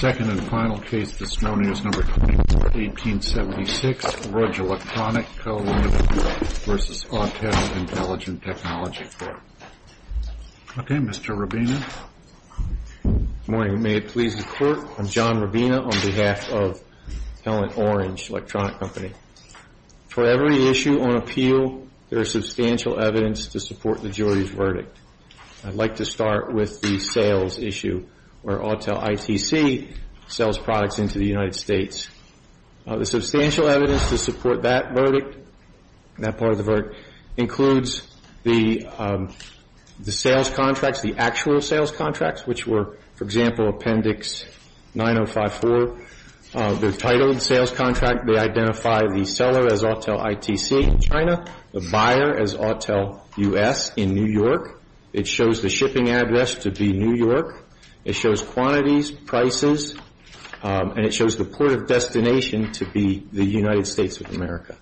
Second and final case, this morning, is number 24, 1876, Rudge Electronic Co. Ltd. v. Autel Intelligent Technology Corp. Okay, Mr. Rubina. Good morning. May it please the Court, I'm John Rubina on behalf of Pellant Orange Electronic Company. For every issue on appeal, there is substantial evidence to support the jury's verdict. I'd like to start with the sales issue where Autel ITC sells products into the United States. The substantial evidence to support that verdict, that part of the verdict, includes the sales contracts, the actual sales contracts, which were, for example, Appendix 9054. Their title and sales contract, they identify the seller as Autel ITC in China, the buyer as Autel US in New York. It shows the shipping address to be New York. It shows quantities, prices, and it shows the port of destination to be the United States of America.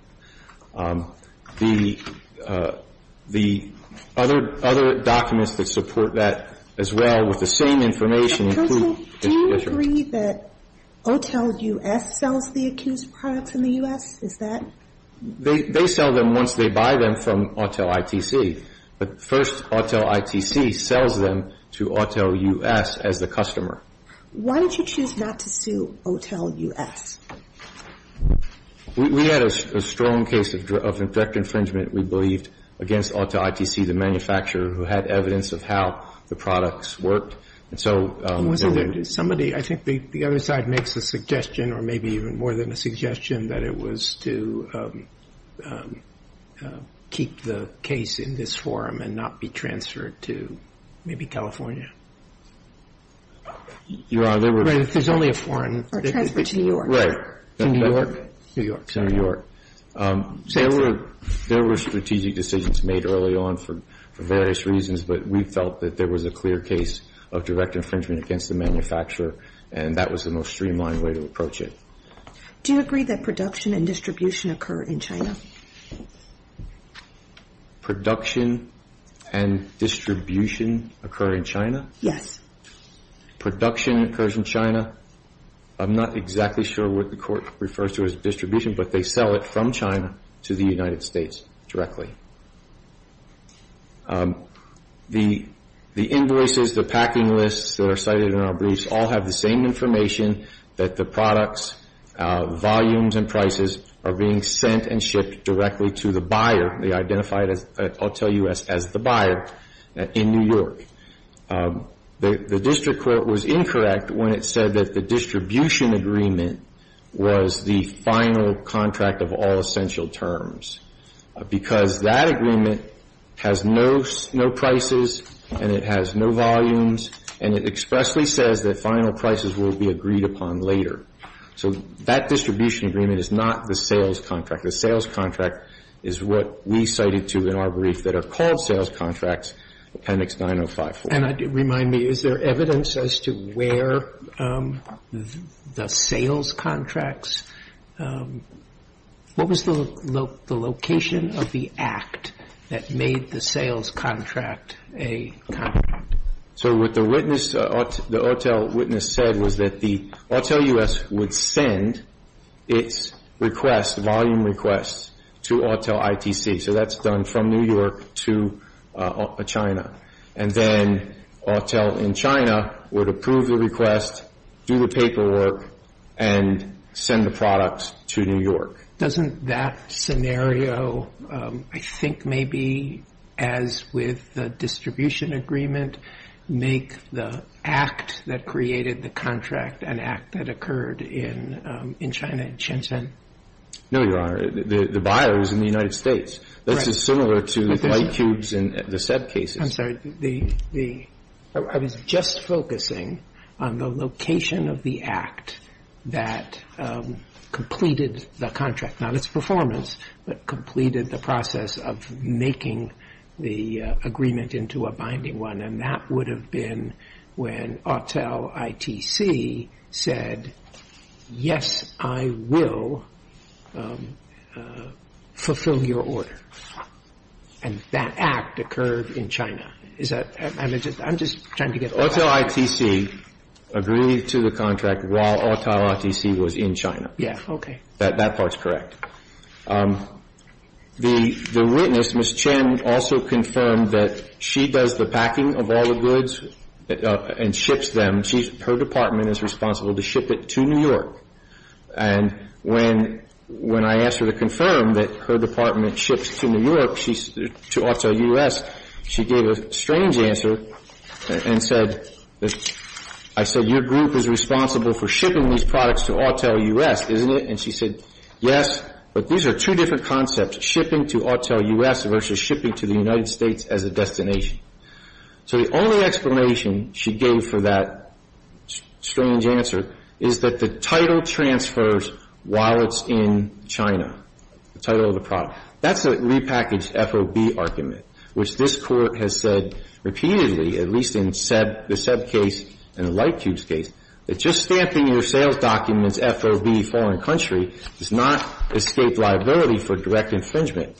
The other documents that support that, as well, with the same information. Counsel, do you agree that Autel US sells the accused products in the U.S.? Is that? They sell them once they buy them from Autel ITC. But first, Autel ITC sells them to Autel US as the customer. Why did you choose not to sue Autel US? We had a strong case of direct infringement, we believed, against Autel ITC, the manufacturer who had evidence of how the products worked. Was there somebody, I think the other side makes a suggestion, or maybe even more than a suggestion, that it was to keep the case in this forum and not be transferred to maybe California? Your Honor, there were... Right, if there's only a foreign... Or transferred to New York. Right. To New York? New York. To New York. There were strategic decisions made early on for various reasons, but we felt that there was a clear case of direct infringement against the manufacturer, and that was the most streamlined way to approach it. Do you agree that production and distribution occur in China? Production and distribution occur in China? Yes. Production occurs in China. I'm not exactly sure what the Court refers to as distribution, but they sell it from China to the United States directly. The invoices, the packing lists that are cited in our briefs, all have the same information that the products, volumes, and prices are being sent and shipped directly to the buyer. They identify Autel U.S. as the buyer in New York. The district court was incorrect when it said that the distribution agreement was the final contract of all essential terms, because that agreement has no prices and it has no volumes, and it expressly says that final prices will be agreed upon later. So that distribution agreement is not the sales contract. The sales contract is what we cited to in our brief that are called sales contracts, Appendix 9054. And remind me, is there evidence as to where the sales contracts, what was the location of the act that made the sales contract a contract? So what the witness, the Autel witness said was that the Autel U.S. would send its request, volume request, to Autel ITC. So that's done from New York to China. And then Autel in China would approve the request, do the paperwork, and send the products to New York. So doesn't that scenario, I think maybe as with the distribution agreement, make the act that created the contract an act that occurred in China, in Shenzhen? No, Your Honor. The buyer is in the United States. Right. This is similar to the light tubes and the SEP cases. I'm sorry. I was just focusing on the location of the act that completed the contract. Not its performance, but completed the process of making the agreement into a binding one. And that would have been when Autel ITC said, yes, I will fulfill your order. And that act occurred in China. I'm just trying to get all that. Autel ITC agreed to the contract while Autel ITC was in China. Yeah, okay. That part's correct. The witness, Ms. Chen, also confirmed that she does the packing of all the goods and ships them. Her department is responsible to ship it to New York. And when I asked her to confirm that her department ships to New York, to Autel U.S., she gave a strange answer and said, I said, your group is responsible for shipping these products to Autel U.S., isn't it? And she said, yes, but these are two different concepts, shipping to Autel U.S. versus shipping to the United States as a destination. So the only explanation she gave for that strange answer is that the title transfers while it's in China, the title of the product. That's a repackaged FOB argument, which this Court has said repeatedly, at least in the Seb case and the Lightcubes case, that just stamping your sales documents FOB foreign country does not escape liability for direct infringement.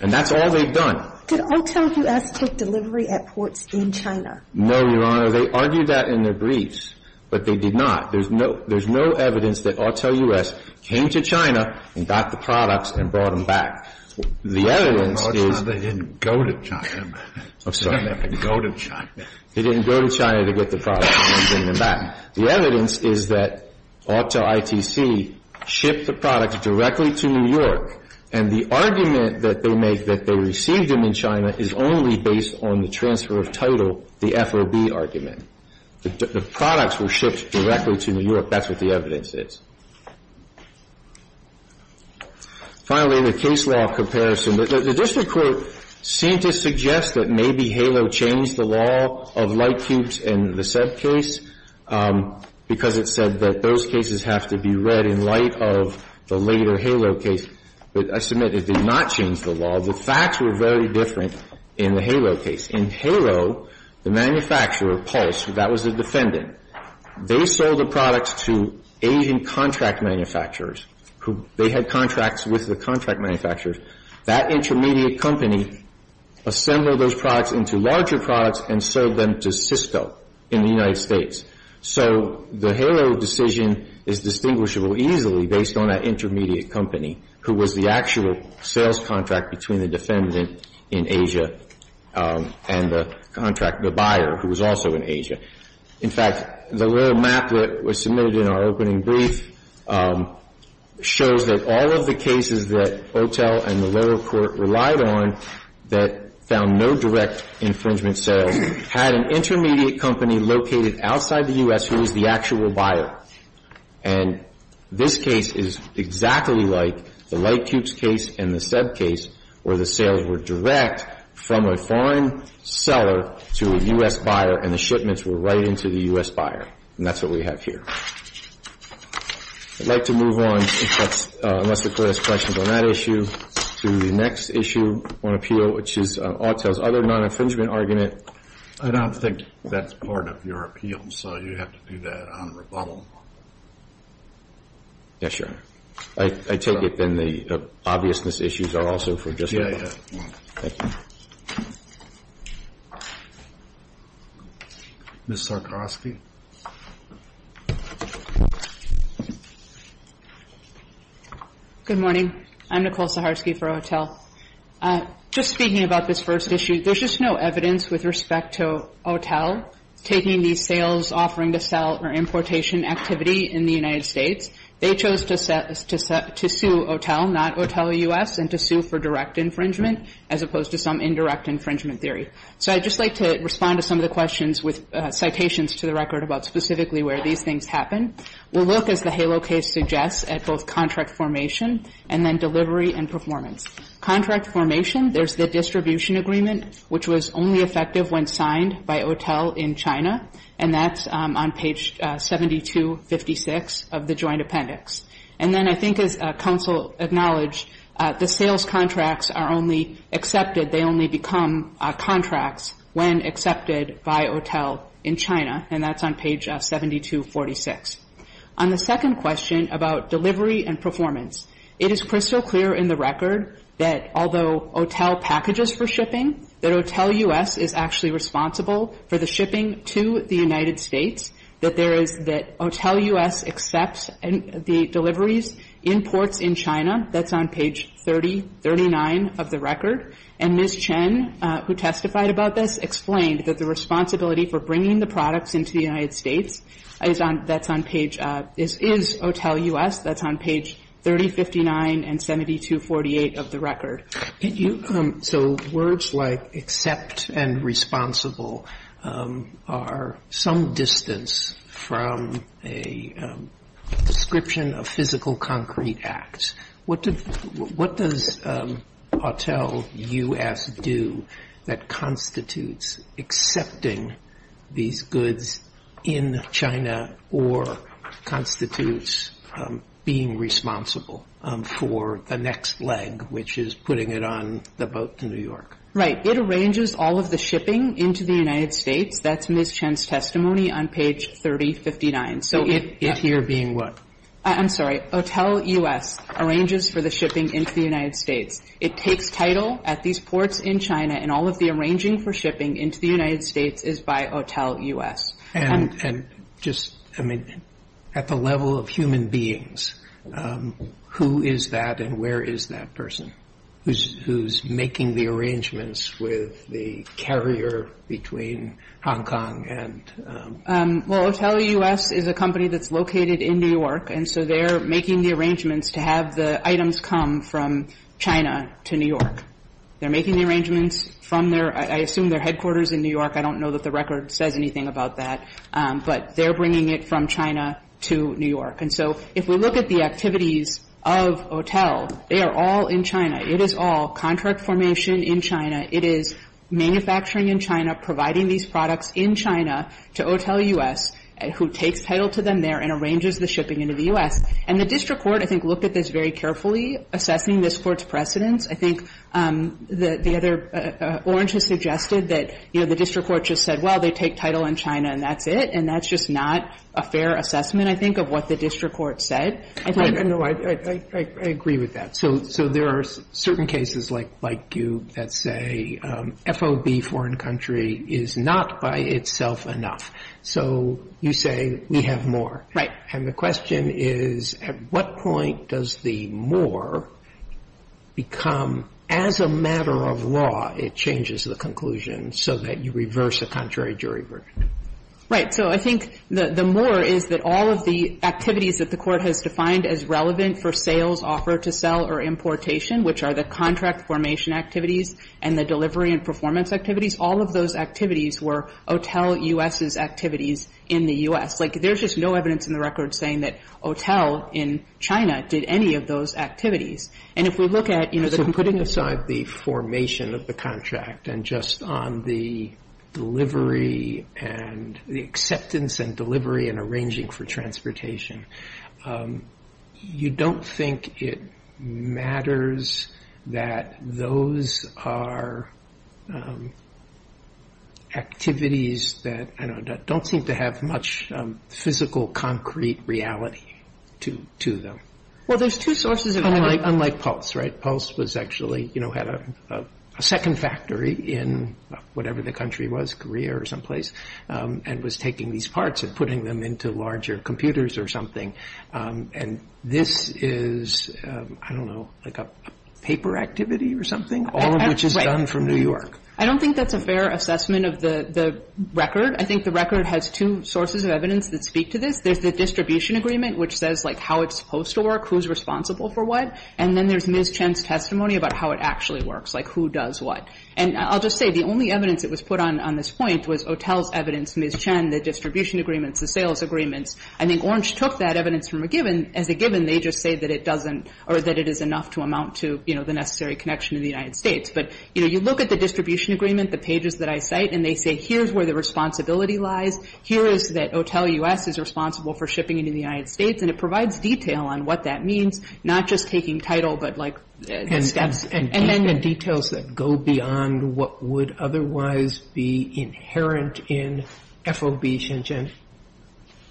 And that's all they've done. Did Autel U.S. take delivery at ports in China? No, Your Honor. They argued that in their briefs, but they did not. There's no evidence that Autel U.S. came to China and got the products and brought them back. The evidence is they didn't go to China. I'm sorry. They didn't go to China. They didn't go to China to get the products and bring them back. The evidence is that Autel ITC shipped the products directly to New York. And the argument that they make that they received them in China is only based on the transfer of title, the FOB argument. The products were shipped directly to New York. That's what the evidence is. Finally, the case law comparison. The district court seemed to suggest that maybe HALO changed the law of Lightcubes and the Seb case because it said that those cases have to be read in light of the later HALO case. But I submit it did not change the law. The facts were very different in the HALO case. In HALO, the manufacturer, Pulse, that was the defendant, they sold the products to Asian contract manufacturers. They had contracts with the contract manufacturers. That intermediate company assembled those products into larger products and sold them to Cisco in the United States. So the HALO decision is distinguishable easily based on that intermediate company, who was the actual sales contract between the defendant in Asia and the contract, the buyer, who was also in Asia. In fact, the little map that was submitted in our opening brief shows that all of the cases that Autel and the lower court relied on that found no direct infringement sales had an intermediate company located outside the U.S. who was the actual buyer. And this case is exactly like the Lightcubes case and the Seb case where the sales were direct from a foreign seller to a U.S. buyer and the shipments were right into the U.S. buyer. And that's what we have here. I'd like to move on, unless the Court has questions on that issue, to the next issue on appeal, which is Autel's other non-infringement argument. I don't think that's part of your appeal, so you have to do that on rebuttal. Yes, Your Honor. I take it then the obviousness issues are also for discussion. Yeah, yeah. Thank you. Ms. Sarkarosky. Good morning. I'm Nicole Sarkarosky for Autel. Just speaking about this first issue, there's just no evidence with respect to Autel taking these sales, offering to sell, or importation activity in the United States. They chose to sue Autel, not Autel U.S., and to sue for direct infringement as opposed to some indirect infringement theory. So I'd just like to respond to some of the questions with citations to the record about specifically where these things happen. We'll look, as the HALO case suggests, at both contract formation and then delivery and performance. Contract formation, there's the distribution agreement, which was only effective when signed by Autel in China, and that's on page 7256 of the joint appendix. And then I think, as counsel acknowledged, the sales contracts are only accepted, they only become contracts when accepted by Autel in China, and that's on page 7246. On the second question about delivery and performance, it is crystal clear in the record that although Autel packages for shipping, that Autel U.S. is actually responsible for the shipping to the United States, that there is that Autel U.S. accepts the deliveries, imports in China, that's on page 3039 of the record, and Liz Chen, who testified about this, explained that the responsibility for bringing the products into the United States is on, that's on page, is Autel U.S., that's on page 3059 and 7248 of the record. So words like accept and responsible are some distance from a description of physical concrete acts. What does Autel U.S. do that constitutes accepting these goods in China or constitutes being responsible for the next leg, which is putting it on the boat to New York? Right. It arranges all of the shipping into the United States. That's Ms. Chen's testimony on page 3059. So it here being what? I'm sorry. Autel U.S. arranges for the shipping into the United States. It takes title at these ports in China, and all of the arranging for shipping into the United States is by Autel U.S. And just, I mean, at the level of human beings, who is that and where is that person who's making the arrangements with the carrier between Hong Kong and? Well, Autel U.S. is a company that's located in New York, and so they're making the arrangements to have the items come from China to New York. They're making the arrangements from their, I assume their headquarters in New York. I don't know that the record says anything about that. But they're bringing it from China to New York. And so if we look at the activities of Autel, they are all in China. It is all contract formation in China. It is manufacturing in China, providing these products in China to Autel U.S. who takes title to them there and arranges the shipping into the U.S. And the district court, I think, looked at this very carefully, assessing this Court's precedence. I think the other orange has suggested that, you know, the district court just said, well, they take title in China and that's it. And that's just not a fair assessment, I think, of what the district court said. I think the court said. No, I agree with that. So there are certain cases like you that say FOB foreign country is not by itself enough. So you say we have more. Right. And the question is, at what point does the more become, as a matter of law, it changes the conclusion so that you reverse a contrary jury verdict? Right. So I think the more is that all of the activities that the Court has defined as relevant for sales, offer to sell, or importation, which are the contract formation activities and the delivery and performance activities, all of those activities were Autel U.S.'s activities in the U.S. Like, there's just no evidence in the record saying that Autel in China did any of those activities. And if we look at, you know, the completion of the contract. So putting aside the formation of the contract and just on the delivery and the acceptance and delivery and arranging for transportation, you don't think it matters that those are activities that don't seem to have much physical, concrete reality to them? Well, there's two sources. Unlike Pulse, right? Pulse was actually, you know, had a second factory in whatever the country was, Korea or someplace, and was taking these parts and putting them into larger computers or something. And this is, I don't know, like a paper activity or something? All of which is done from New York. I don't think that's a fair assessment of the record. I think the record has two sources of evidence that speak to this. There's the distribution agreement, which says, like, how it's supposed to work, who's responsible for what. And then there's Ms. Chen's testimony about how it actually works, like who does what. And I'll just say the only evidence that was put on this point was Otel's evidence, Ms. Chen, the distribution agreements, the sales agreements. I think Orange took that evidence from a given. As a given, they just say that it doesn't or that it is enough to amount to, you know, the necessary connection to the United States. But, you know, you look at the distribution agreement, the pages that I cite, and they say here's where the responsibility lies, here is that Otel U.S. is responsible for shipping into the United States, and it provides detail on what that means, not just taking title but, like, steps. And then the details that go beyond what would otherwise be inherent in FOB, Chen Chen.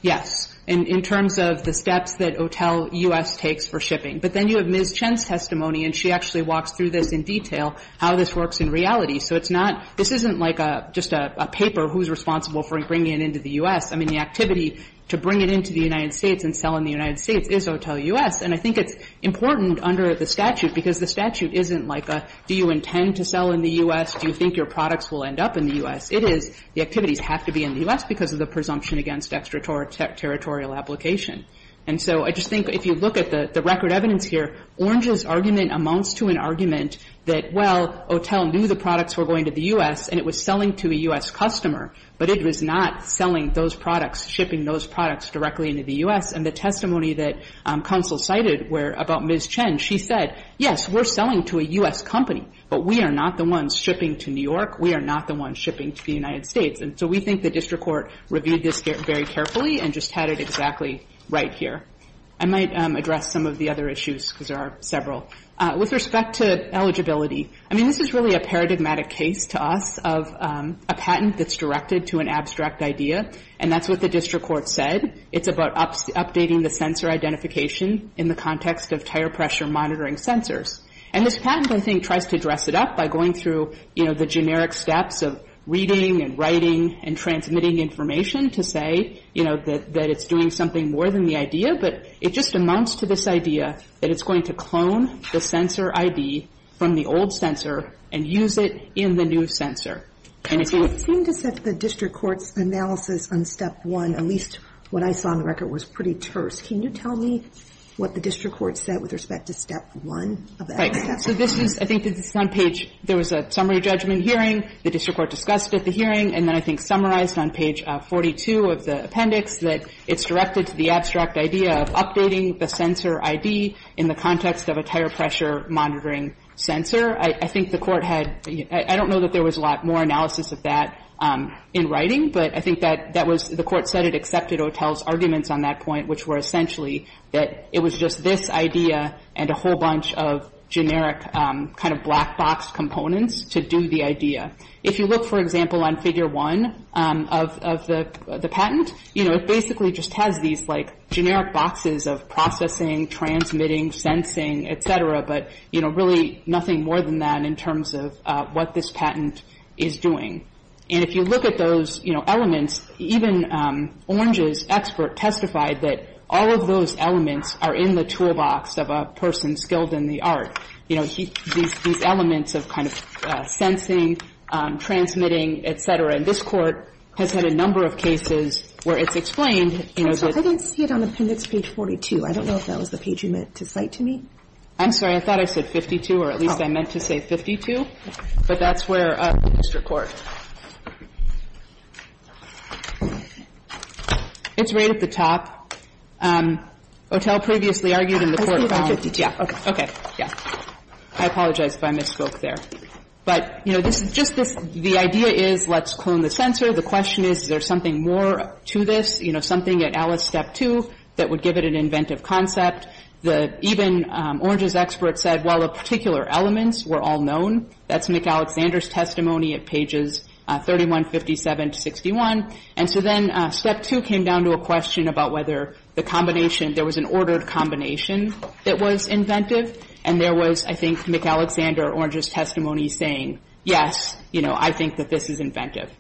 Yes. In terms of the steps that Otel U.S. takes for shipping. But then you have Ms. Chen's testimony, and she actually walks through this in detail, how this works in reality. So it's not – this isn't like just a paper, who's responsible for bringing it into the U.S. I mean, the activity to bring it into the United States and sell in the United States is Otel U.S. And I think it's important under the statute, because the statute isn't like a do you intend to sell in the U.S., do you think your products will end up in the U.S.? It is the activities have to be in the U.S. because of the presumption against extraterritorial application. And so I just think if you look at the record evidence here, Orange's argument amounts to an argument that, well, Otel knew the products were going to the U.S., and it was selling to a U.S. customer, but it was not selling those products, shipping those products directly into the U.S. And the testimony that counsel cited about Ms. Chen, she said, yes, we're selling to a U.S. company, but we are not the ones shipping to New York. We are not the ones shipping to the United States. And so we think the district court reviewed this very carefully and just had it exactly right here. I might address some of the other issues, because there are several. With respect to eligibility, I mean, this is really a paradigmatic case to us of a patent that's directed to an abstract idea, and that's what the district court said. It's about updating the sensor identification in the context of tire pressure monitoring sensors. And this patent, I think, tries to dress it up by going through, you know, the generic steps of reading and writing and transmitting information to say, you know, that it's doing something more than the idea. But it just amounts to this idea that it's going to clone the sensor ID from the old sensor and use it in the new sensor. Can you see what It seemed to set the district court's analysis on step one, at least what I saw on the record, was pretty terse. Can you tell me what the district court said with respect to step one of that? Right. So this is – I think this is on page – there was a summary judgment hearing. The district court discussed it at the hearing, and then I think summarized on page 42 of the appendix that it's directed to the abstract idea of updating the sensor ID in the context of a tire pressure monitoring sensor. I think the court had – I don't know that there was a lot more analysis of that in writing, but I think that that was – the court said it accepted Otell's arguments on that point, which were essentially that it was just this idea and a whole bunch of generic kind of black box components to do the idea. If you look, for example, on figure one of the patent, you know, it basically just has these, like, generic boxes of processing, transmitting, sensing, et cetera, but, you know, really nothing more than that in terms of what this patent is doing. And if you look at those, you know, elements, even Orange's expert testified that all of those elements are in the toolbox of a person skilled in the art. You know, these elements of kind of sensing, transmitting, et cetera. And this Court has had a number of cases where it's explained, you know, that – I'm sorry. I thought I said 52, or at least I meant to say 52. But that's where – Mr. Court. It's right at the top. Otell previously argued in the court – I was thinking 52. Yeah. Okay. Yeah. I apologize if I misspoke there. But, you know, this is just this – the idea is let's clone the sensor. The question is is there something more to this, you know, something at Alice Step 2 that would give it an inventive concept? Even Orange's expert said, well, the particular elements were all known. That's McAlexander's testimony at pages 31, 57 to 61. And so then Step 2 came down to a question about whether the combination – there was an ordered combination that was inventive. And there was, I think, McAlexander, Orange's testimony saying, yes, you know, I think that this is inventive.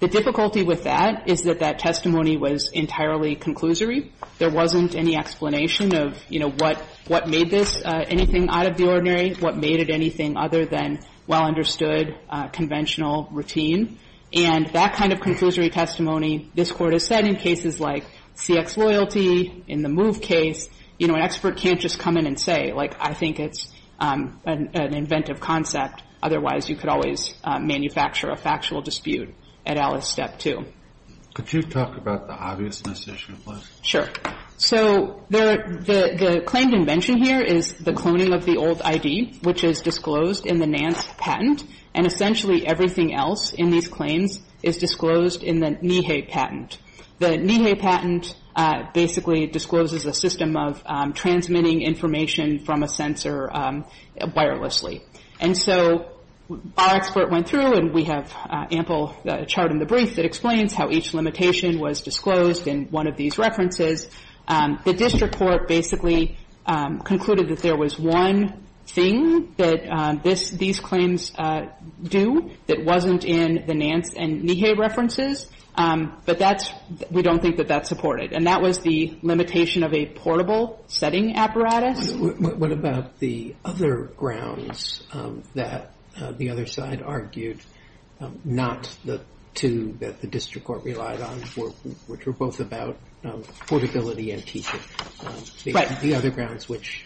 The difficulty with that is that that testimony was entirely conclusory. There wasn't any explanation of, you know, what made this anything out of the ordinary, what made it anything other than well-understood conventional routine. And that kind of conclusory testimony, this Court has said in cases like CX Loyalty, in the MOVE case, you know, an expert can't just come in and say, like, I think it's an inventive concept. Otherwise, you could always manufacture a factual dispute at Alice Step 2. Could you talk about the obviousness issue, please? Sure. So the claimed invention here is the cloning of the old ID, which is disclosed in the Nance patent. And essentially everything else in these claims is disclosed in the Nihei patent. The Nihei patent basically discloses a system of transmitting information from a sensor wirelessly. And so our expert went through, and we have ample chart in the brief that explains how each limitation was disclosed in one of these references. The district court basically concluded that there was one thing that this – these claims do that wasn't in the Nance and Nihei references, but that's – we don't think that that's supported. And that was the limitation of a portable setting apparatus. What about the other grounds that the other side argued, not the two that the district court relied on, which were both about portability and teaching? Right. The other grounds, which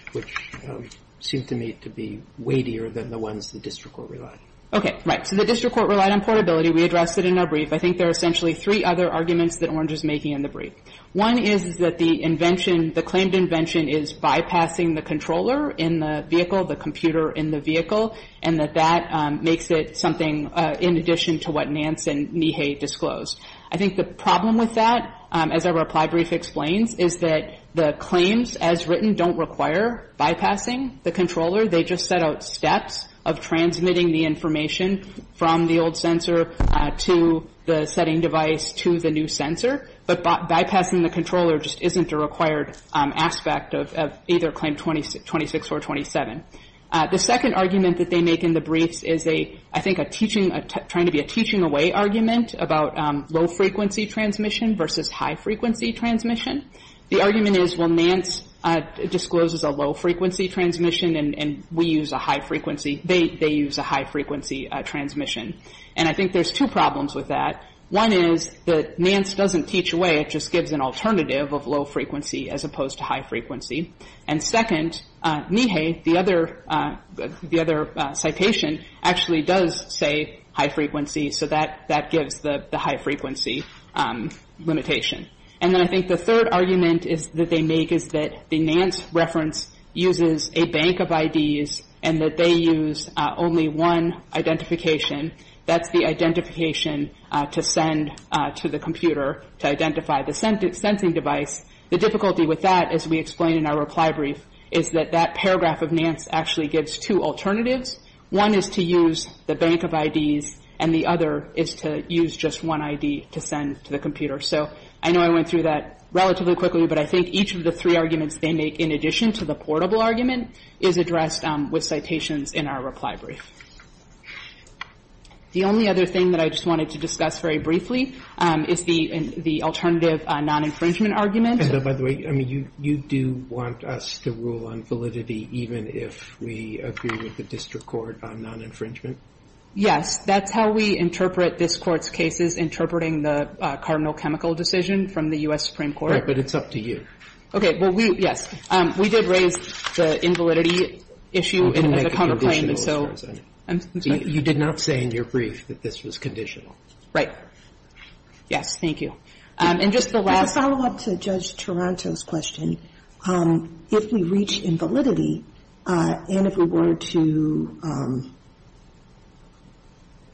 seem to me to be weightier than the ones the district court relied on. Okay. Right. So the district court relied on portability. We addressed it in our brief. I think there are essentially three other arguments that Orange is making in the brief. One is that the invention – the claimed invention is bypassing the controller in the vehicle, the computer in the vehicle, and that that makes it something in addition to what Nance and Nihei disclosed. I think the problem with that, as our reply brief explains, is that the claims as written don't require bypassing the controller. They just set out steps of transmitting the information from the old sensor to the setting device to the new sensor. But bypassing the controller just isn't a required aspect of either Claim 26 or 27. The second argument that they make in the briefs is a – I think a teaching – trying to be a teaching away argument about low-frequency transmission versus high-frequency transmission. The argument is, well, Nance discloses a low-frequency transmission and we use a high-frequency – they use a high-frequency transmission. And I think there's two problems with that. One is that Nance doesn't teach away. It just gives an alternative of low-frequency as opposed to high-frequency. And second, Nihei, the other citation, actually does say high-frequency, so that gives the high-frequency limitation. And then I think the third argument that they make is that the Nance reference uses a bank of IDs and that they use only one identification. That's the identification to send to the computer to identify the sensing device. The difficulty with that, as we explain in our reply brief, is that that paragraph of Nance actually gives two alternatives. One is to use the bank of IDs and the other is to use just one ID to send to the computer. So I know I went through that relatively quickly, but I think each of the three arguments they make in addition to the portable argument is addressed with citations in our reply brief. The only other thing that I just wanted to discuss very briefly is the alternative non-infringement argument. And, by the way, you do want us to rule on validity even if we agree with the district court on non-infringement? Yes. That's how we interpret this Court's cases, interpreting the cardinal chemical decision from the U.S. Supreme Court. Right, but it's up to you. Okay. Well, we, yes, we did raise the invalidity issue in the cover claim, and so. You did not say in your brief that this was conditional. Right. Yes. Thank you. And just the last. As a follow-up to Judge Taranto's question, if we reach invalidity and if we were to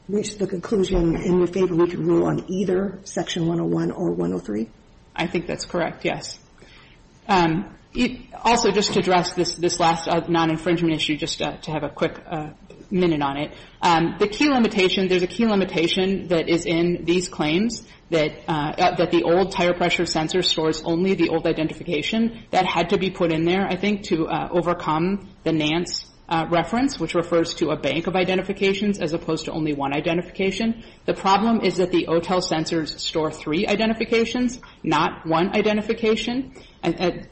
reach the conclusion in your favor, we can rule on either Section 101 or 103? I think that's correct, yes. Also, just to address this last non-infringement issue, just to have a quick minute on it, the key limitation, there's a key limitation that is in these claims, that the old tire pressure sensor stores only the old identification. That had to be put in there, I think, to overcome the Nance reference, which refers to a bank of identifications as opposed to only one identification. The problem is that the OTEL sensors store three identifications, not one identification.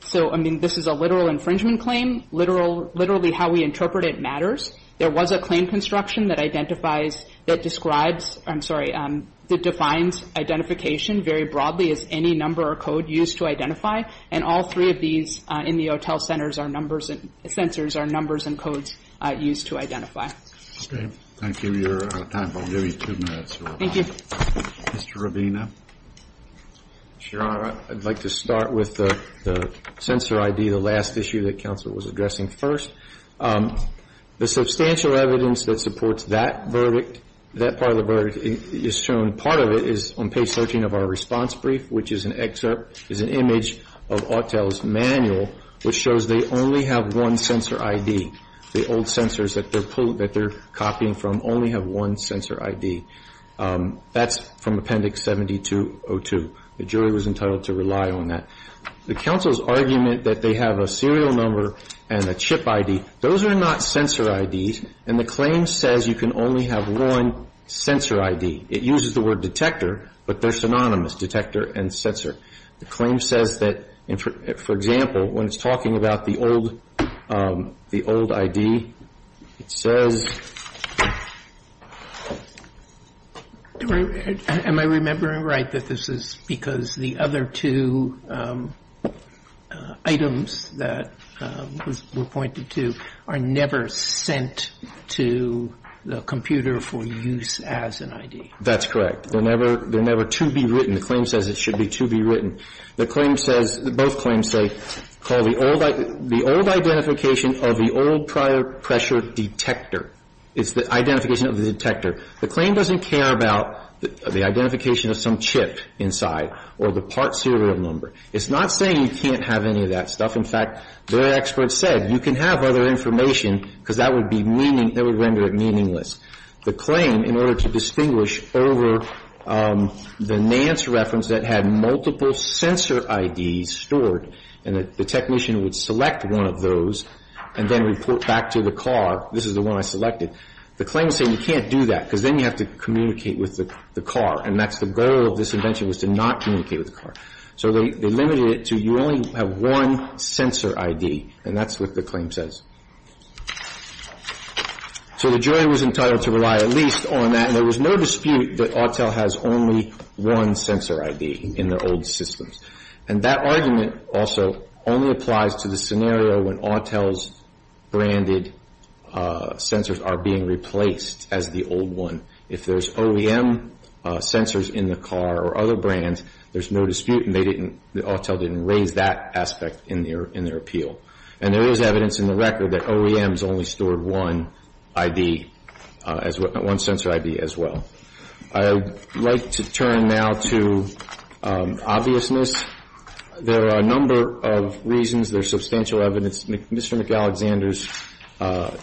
So, I mean, this is a literal infringement claim. Literally how we interpret it matters. There was a claim construction that identifies, that describes, I'm sorry, that defines identification very broadly as any number or code used to identify, and all three of these in the OTEL sensors are numbers and codes used to identify. Okay. Thank you. You're out of time. I'll give you two minutes. Thank you. Mr. Rubino. Your Honor, I'd like to start with the sensor ID, the last issue that counsel was addressing first. The substantial evidence that supports that verdict, that part of the verdict is shown, part of it is on page 13 of our response brief, which is an excerpt, is an image of OTEL's manual, which shows they only have one sensor ID. The old sensors that they're copying from only have one sensor ID. That's from Appendix 7202. The jury was entitled to rely on that. The counsel's argument that they have a serial number and a chip ID, those are not sensor IDs, and the claim says you can only have one sensor ID. It uses the word detector, but they're synonymous, detector and sensor. The claim says that, for example, when it's talking about the old ID, it says Am I remembering right that this is because the other two items that were pointed to are never sent to the computer for use as an ID? That's correct. They're never to be written. The claim says it should be to be written. The claim says, both claims say, call the old identification of the old prior pressure detector. It's the identification of the detector. The claim doesn't care about the identification of some chip inside or the part serial number. It's not saying you can't have any of that stuff. In fact, their experts said you can have other information because that would be meaning that would render it meaningless. The claim, in order to distinguish over the Nance reference that had multiple sensor IDs stored and the technician would select one of those and then report back to the car, this is the one I selected. The claim is saying you can't do that because then you have to communicate with the car, and that's the goal of this invention was to not communicate with the car. So they limited it to you only have one sensor ID, and that's what the claim says. So the jury was entitled to rely at least on that, and there was no dispute that Autel has only one sensor ID in their old systems. And that argument also only applies to the scenario when Autel's branded sensors are being replaced as the old one. If there's OEM sensors in the car or other brands, there's no dispute, and Autel didn't raise that aspect in their appeal. And there is evidence in the record that OEMs only stored one sensor ID as well. I would like to turn now to obviousness. There are a number of reasons. There's substantial evidence. Mr. McAlexander's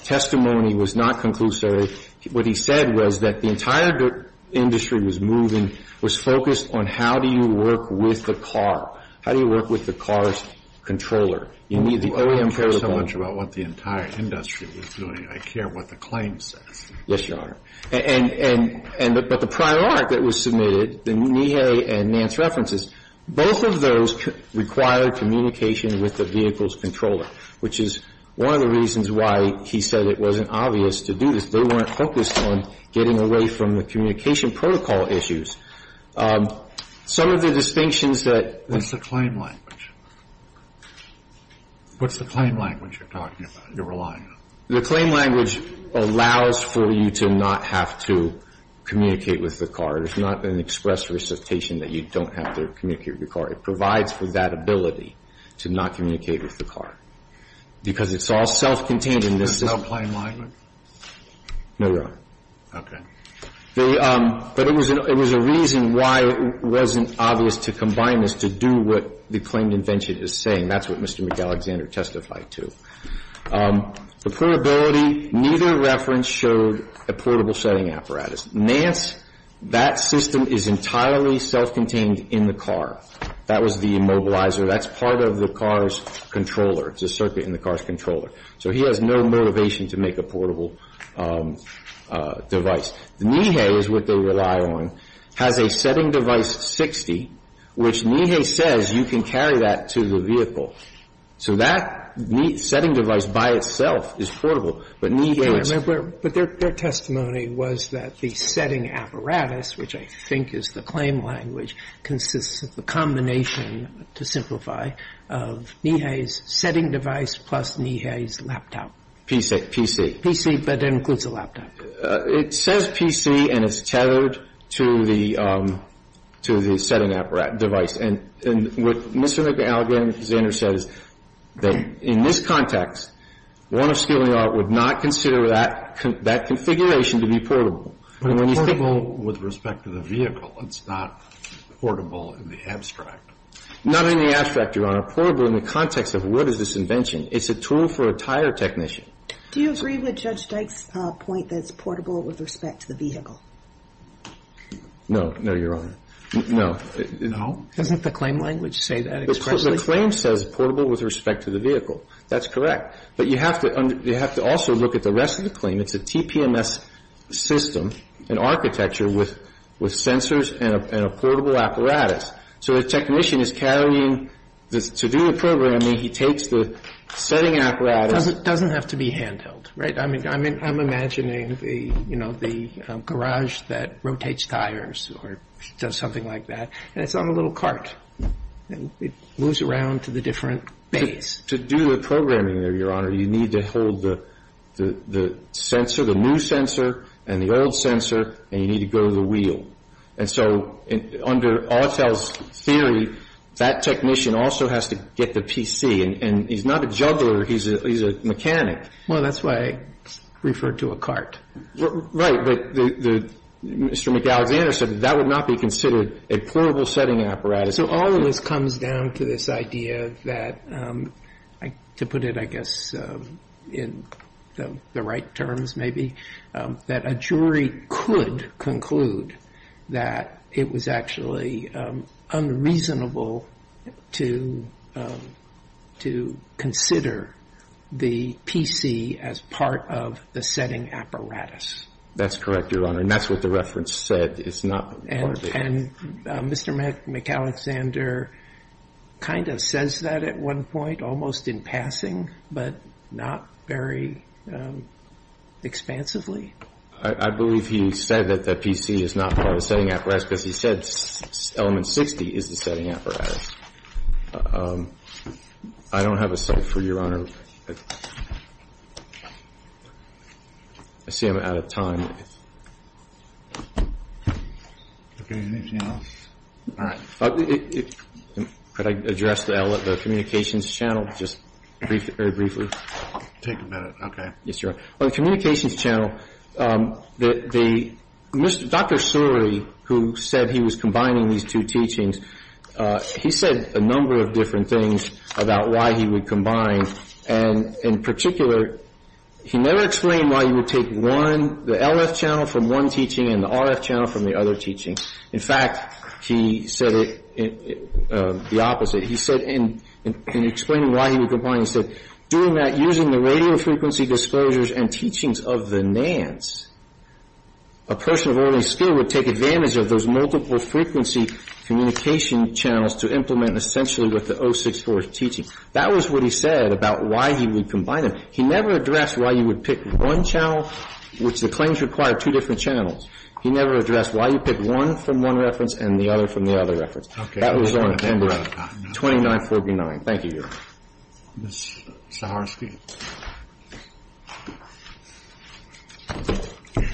testimony was not conclusory. What he said was that the entire industry was moving, was focused on how do you work with the car? How do you work with the car's controller? You need the OEM protocol. Well, I don't care so much about what the entire industry was doing. I care what the claim says. Yes, Your Honor. But the prior art that was submitted, the NIEHE and NANCE references, both of those required communication with the vehicle's controller, which is one of the reasons why he said it wasn't obvious to do this. They weren't focused on getting away from the communication protocol issues. Some of the distinctions that ---- What's the claim language? What's the claim language you're talking about, you're relying on? The claim language allows for you to not have to communicate with the car. It's not an express recitation that you don't have to communicate with the car. It provides for that ability to not communicate with the car because it's all self-contained. There's no claim language? No, Your Honor. Okay. But it was a reason why it wasn't obvious to combine this to do what the claimed invention is saying. That's what Mr. McAlexander testified to. The portability, neither reference showed a portable setting apparatus. NANCE, that system is entirely self-contained in the car. That was the immobilizer. That's part of the car's controller. It's a circuit in the car's controller. So he has no motivation to make a portable device. The NEHE is what they rely on, has a setting device 60, which NEHE says you can carry that to the vehicle. So that setting device by itself is portable, but NEHE is ---- But their testimony was that the setting apparatus, which I think is the claim language, consists of a combination, to simplify, of NEHE's setting device plus NEHE's laptop. PC. PC, but it includes a laptop. It says PC, and it's tethered to the setting device. And what Mr. McAlexander says is that in this context, Warner Steeling Art would not consider that configuration to be portable. But it's portable with respect to the vehicle. It's not portable in the abstract. Not in the abstract, Your Honor. Portable in the context of what is this invention. It's a tool for a tire technician. Do you agree with Judge Dyke's point that it's portable with respect to the vehicle? No. No, Your Honor. No. No? Doesn't the claim language say that expressly? The claim says portable with respect to the vehicle. That's correct. But you have to also look at the rest of the claim. It's a TPMS system, an architecture with sensors and a portable apparatus. So the technician is carrying, to do the programming, he takes the setting apparatus. It doesn't have to be handheld, right? I'm imagining the garage that rotates tires or does something like that. And it's on a little cart. It moves around to the different bays. To do the programming there, Your Honor, you need to hold the sensor, the new sensor, and the old sensor, and you need to go to the wheel. And so under Autel's theory, that technician also has to get the PC. And he's not a juggler. He's a mechanic. Well, that's why I referred to a cart. Right. But Mr. McAlexander said that that would not be considered a portable setting apparatus. So all of this comes down to this idea that, to put it, I guess, in the right terms maybe, that a jury could conclude that it was actually unreasonable to consider the PC as part of the setting apparatus. That's correct, Your Honor. And that's what the reference said. It's not part of it. And Mr. McAlexander kind of says that at one point, almost in passing, but not very expansively. I believe he said that the PC is not part of the setting apparatus because he said element 60 is the setting apparatus. I don't have a cell for you, Your Honor. I see I'm out of time. Okay. Anything else? All right. Could I address the communications channel just very briefly? Take a minute. Okay. Yes, Your Honor. On the communications channel, Dr. Suri, who said he was combining these two teachings, he said a number of different things about why he would combine. In particular, he never explained why he would take one, the LF channel from one teaching and the RF channel from the other teaching. In fact, he said the opposite. He said in explaining why he would combine, he said, doing that using the radio frequency disclosures and teachings of the NANDs, a person of early skill would take advantage of those multiple frequency communication channels to implement essentially what the 064 is teaching. That was what he said about why he would combine them. He never addressed why you would pick one channel, which the claims require two different channels. He never addressed why you pick one from one reference and the other from the other reference. Okay. That was on November 29, 49. Thank you, Your Honor. Ms. Saharsky.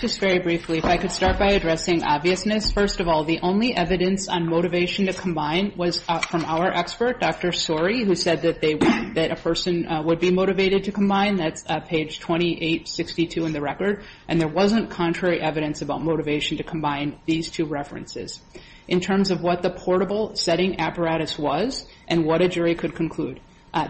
Just very briefly, if I could start by addressing obviousness. First of all, the only evidence on motivation to combine was from our expert, Dr. Sori, who said that a person would be motivated to combine. That's page 2862 in the record. And there wasn't contrary evidence about motivation to combine these two references. In terms of what the portable setting apparatus was and what a jury could conclude,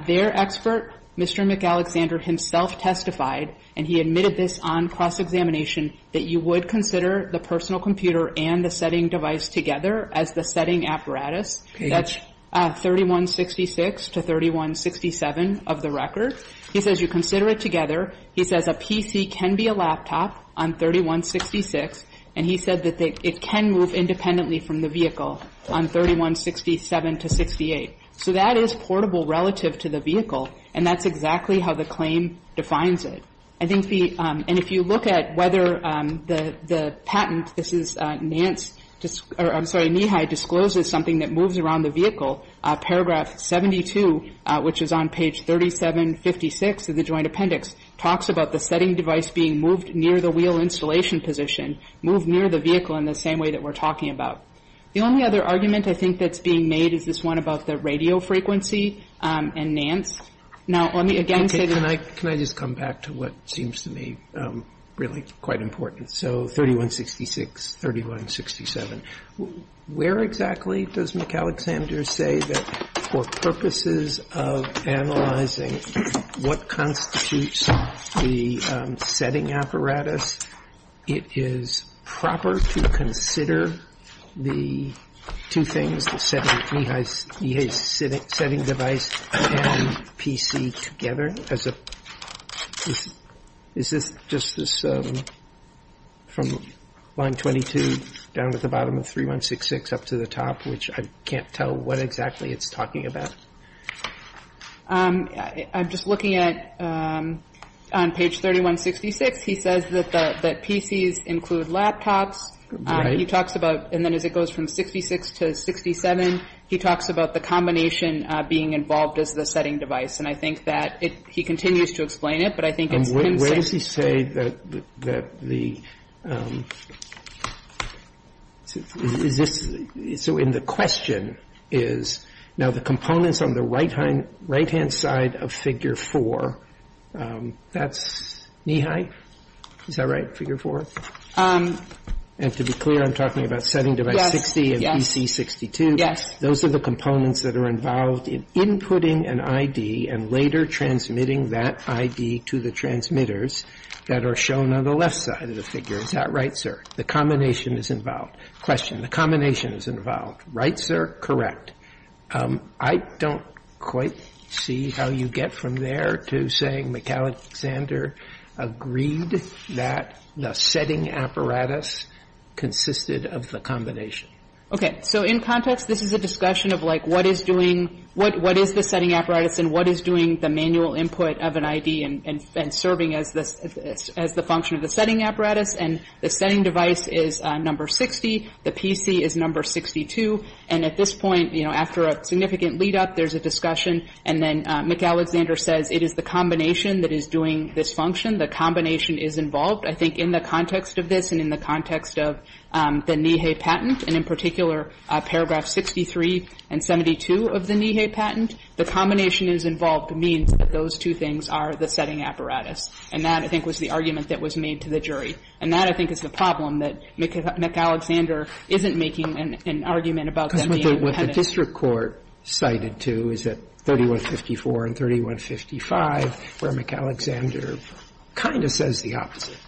their expert, Mr. McAlexander, himself testified, and he admitted this on cross-examination, that you would consider the personal computer and the setting device together as the setting apparatus. That's 3166 to 3167 of the record. He says you consider it together. He says a PC can be a laptop on 3166, and he said that it can move independently from the vehicle on 3167 to 68. So that is portable relative to the vehicle, and that's exactly how the claim defines it. I think the – and if you look at whether the patent, this is Nance – I'm sorry, NEHI discloses something that moves around the vehicle. Paragraph 72, which is on page 3756 of the Joint Appendix, talks about the setting device being moved near the wheel installation position, moved near the vehicle in the same way that we're talking about. The only other argument I think that's being made is this one about the radio frequency and Nance. Now, let me again say that – this seems to me really quite important. So 3166, 3167. Where exactly does McAlexander say that for purposes of analyzing what constitutes the setting apparatus, it is proper to consider the two things, setting device and PC together? Is this just this – from line 22 down to the bottom of 3166 up to the top, which I can't tell what exactly it's talking about? I'm just looking at – on page 3166, he says that PCs include laptops. Right. He talks about – and then as it goes from 66 to 67, he talks about the combination being involved as the setting device. And I think that it – he continues to explain it, but I think it's him saying Where does he say that the – is this – so in the question is, now the components on the right-hand side of figure 4, that's knee-high? Is that right, figure 4? And to be clear, I'm talking about setting device 60 and PC62. Those are the components that are involved in inputting an ID and later transmitting that ID to the transmitters that are shown on the left side of the figure. Is that right, sir? The combination is involved. Question. The combination is involved. Right, sir? Correct. I don't quite see how you get from there to saying McAlexander agreed that the setting apparatus consisted of the combination. Okay. So in context, this is a discussion of, like, what is doing – what is the setting apparatus and what is doing the manual input of an ID and serving as the function of the setting apparatus. And the setting device is number 60. The PC is number 62. And at this point, you know, after a significant lead-up, there's a discussion, and then McAlexander says it is the combination that is doing this function. The combination is involved, I think, in the context of this and in the context of the Neha patent, and in particular paragraph 63 and 72 of the Neha patent. The combination is involved means that those two things are the setting apparatus. And that, I think, was the argument that was made to the jury. And that, I think, is the problem, that McAlexander isn't making an argument about them being independent. Because what the district court cited to is that 3154 and 3155, where McAlexander kind of says the opposite.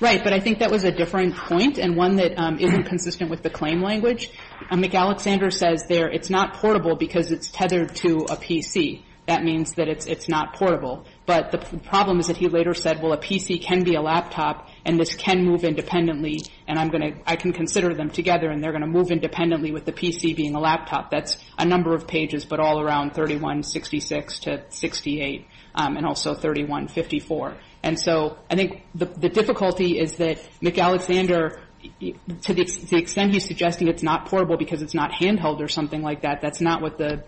Right. But I think that was a differing point and one that isn't consistent with the claim language. McAlexander says there it's not portable because it's tethered to a PC. That means that it's not portable. But the problem is that he later said, well, a PC can be a laptop and this can move independently and I can consider them together and they're going to move independently with the PC being a laptop. That's a number of pages, but all around 3166 to 68 and also 3154. And so I think the difficulty is that McAlexander, to the extent he's suggesting it's not portable because it's not handheld or something like that, that's not what the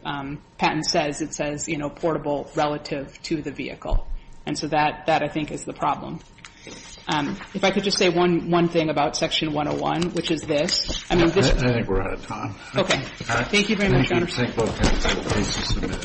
patent says. It says, you know, portable relative to the vehicle. And so that, I think, is the problem. If I could just say one thing about Section 101, which is this. I mean, this. I think we're out of time. Okay. Thank you very much, Your Honor. Thank you. Thank you both. Thanks for submitting.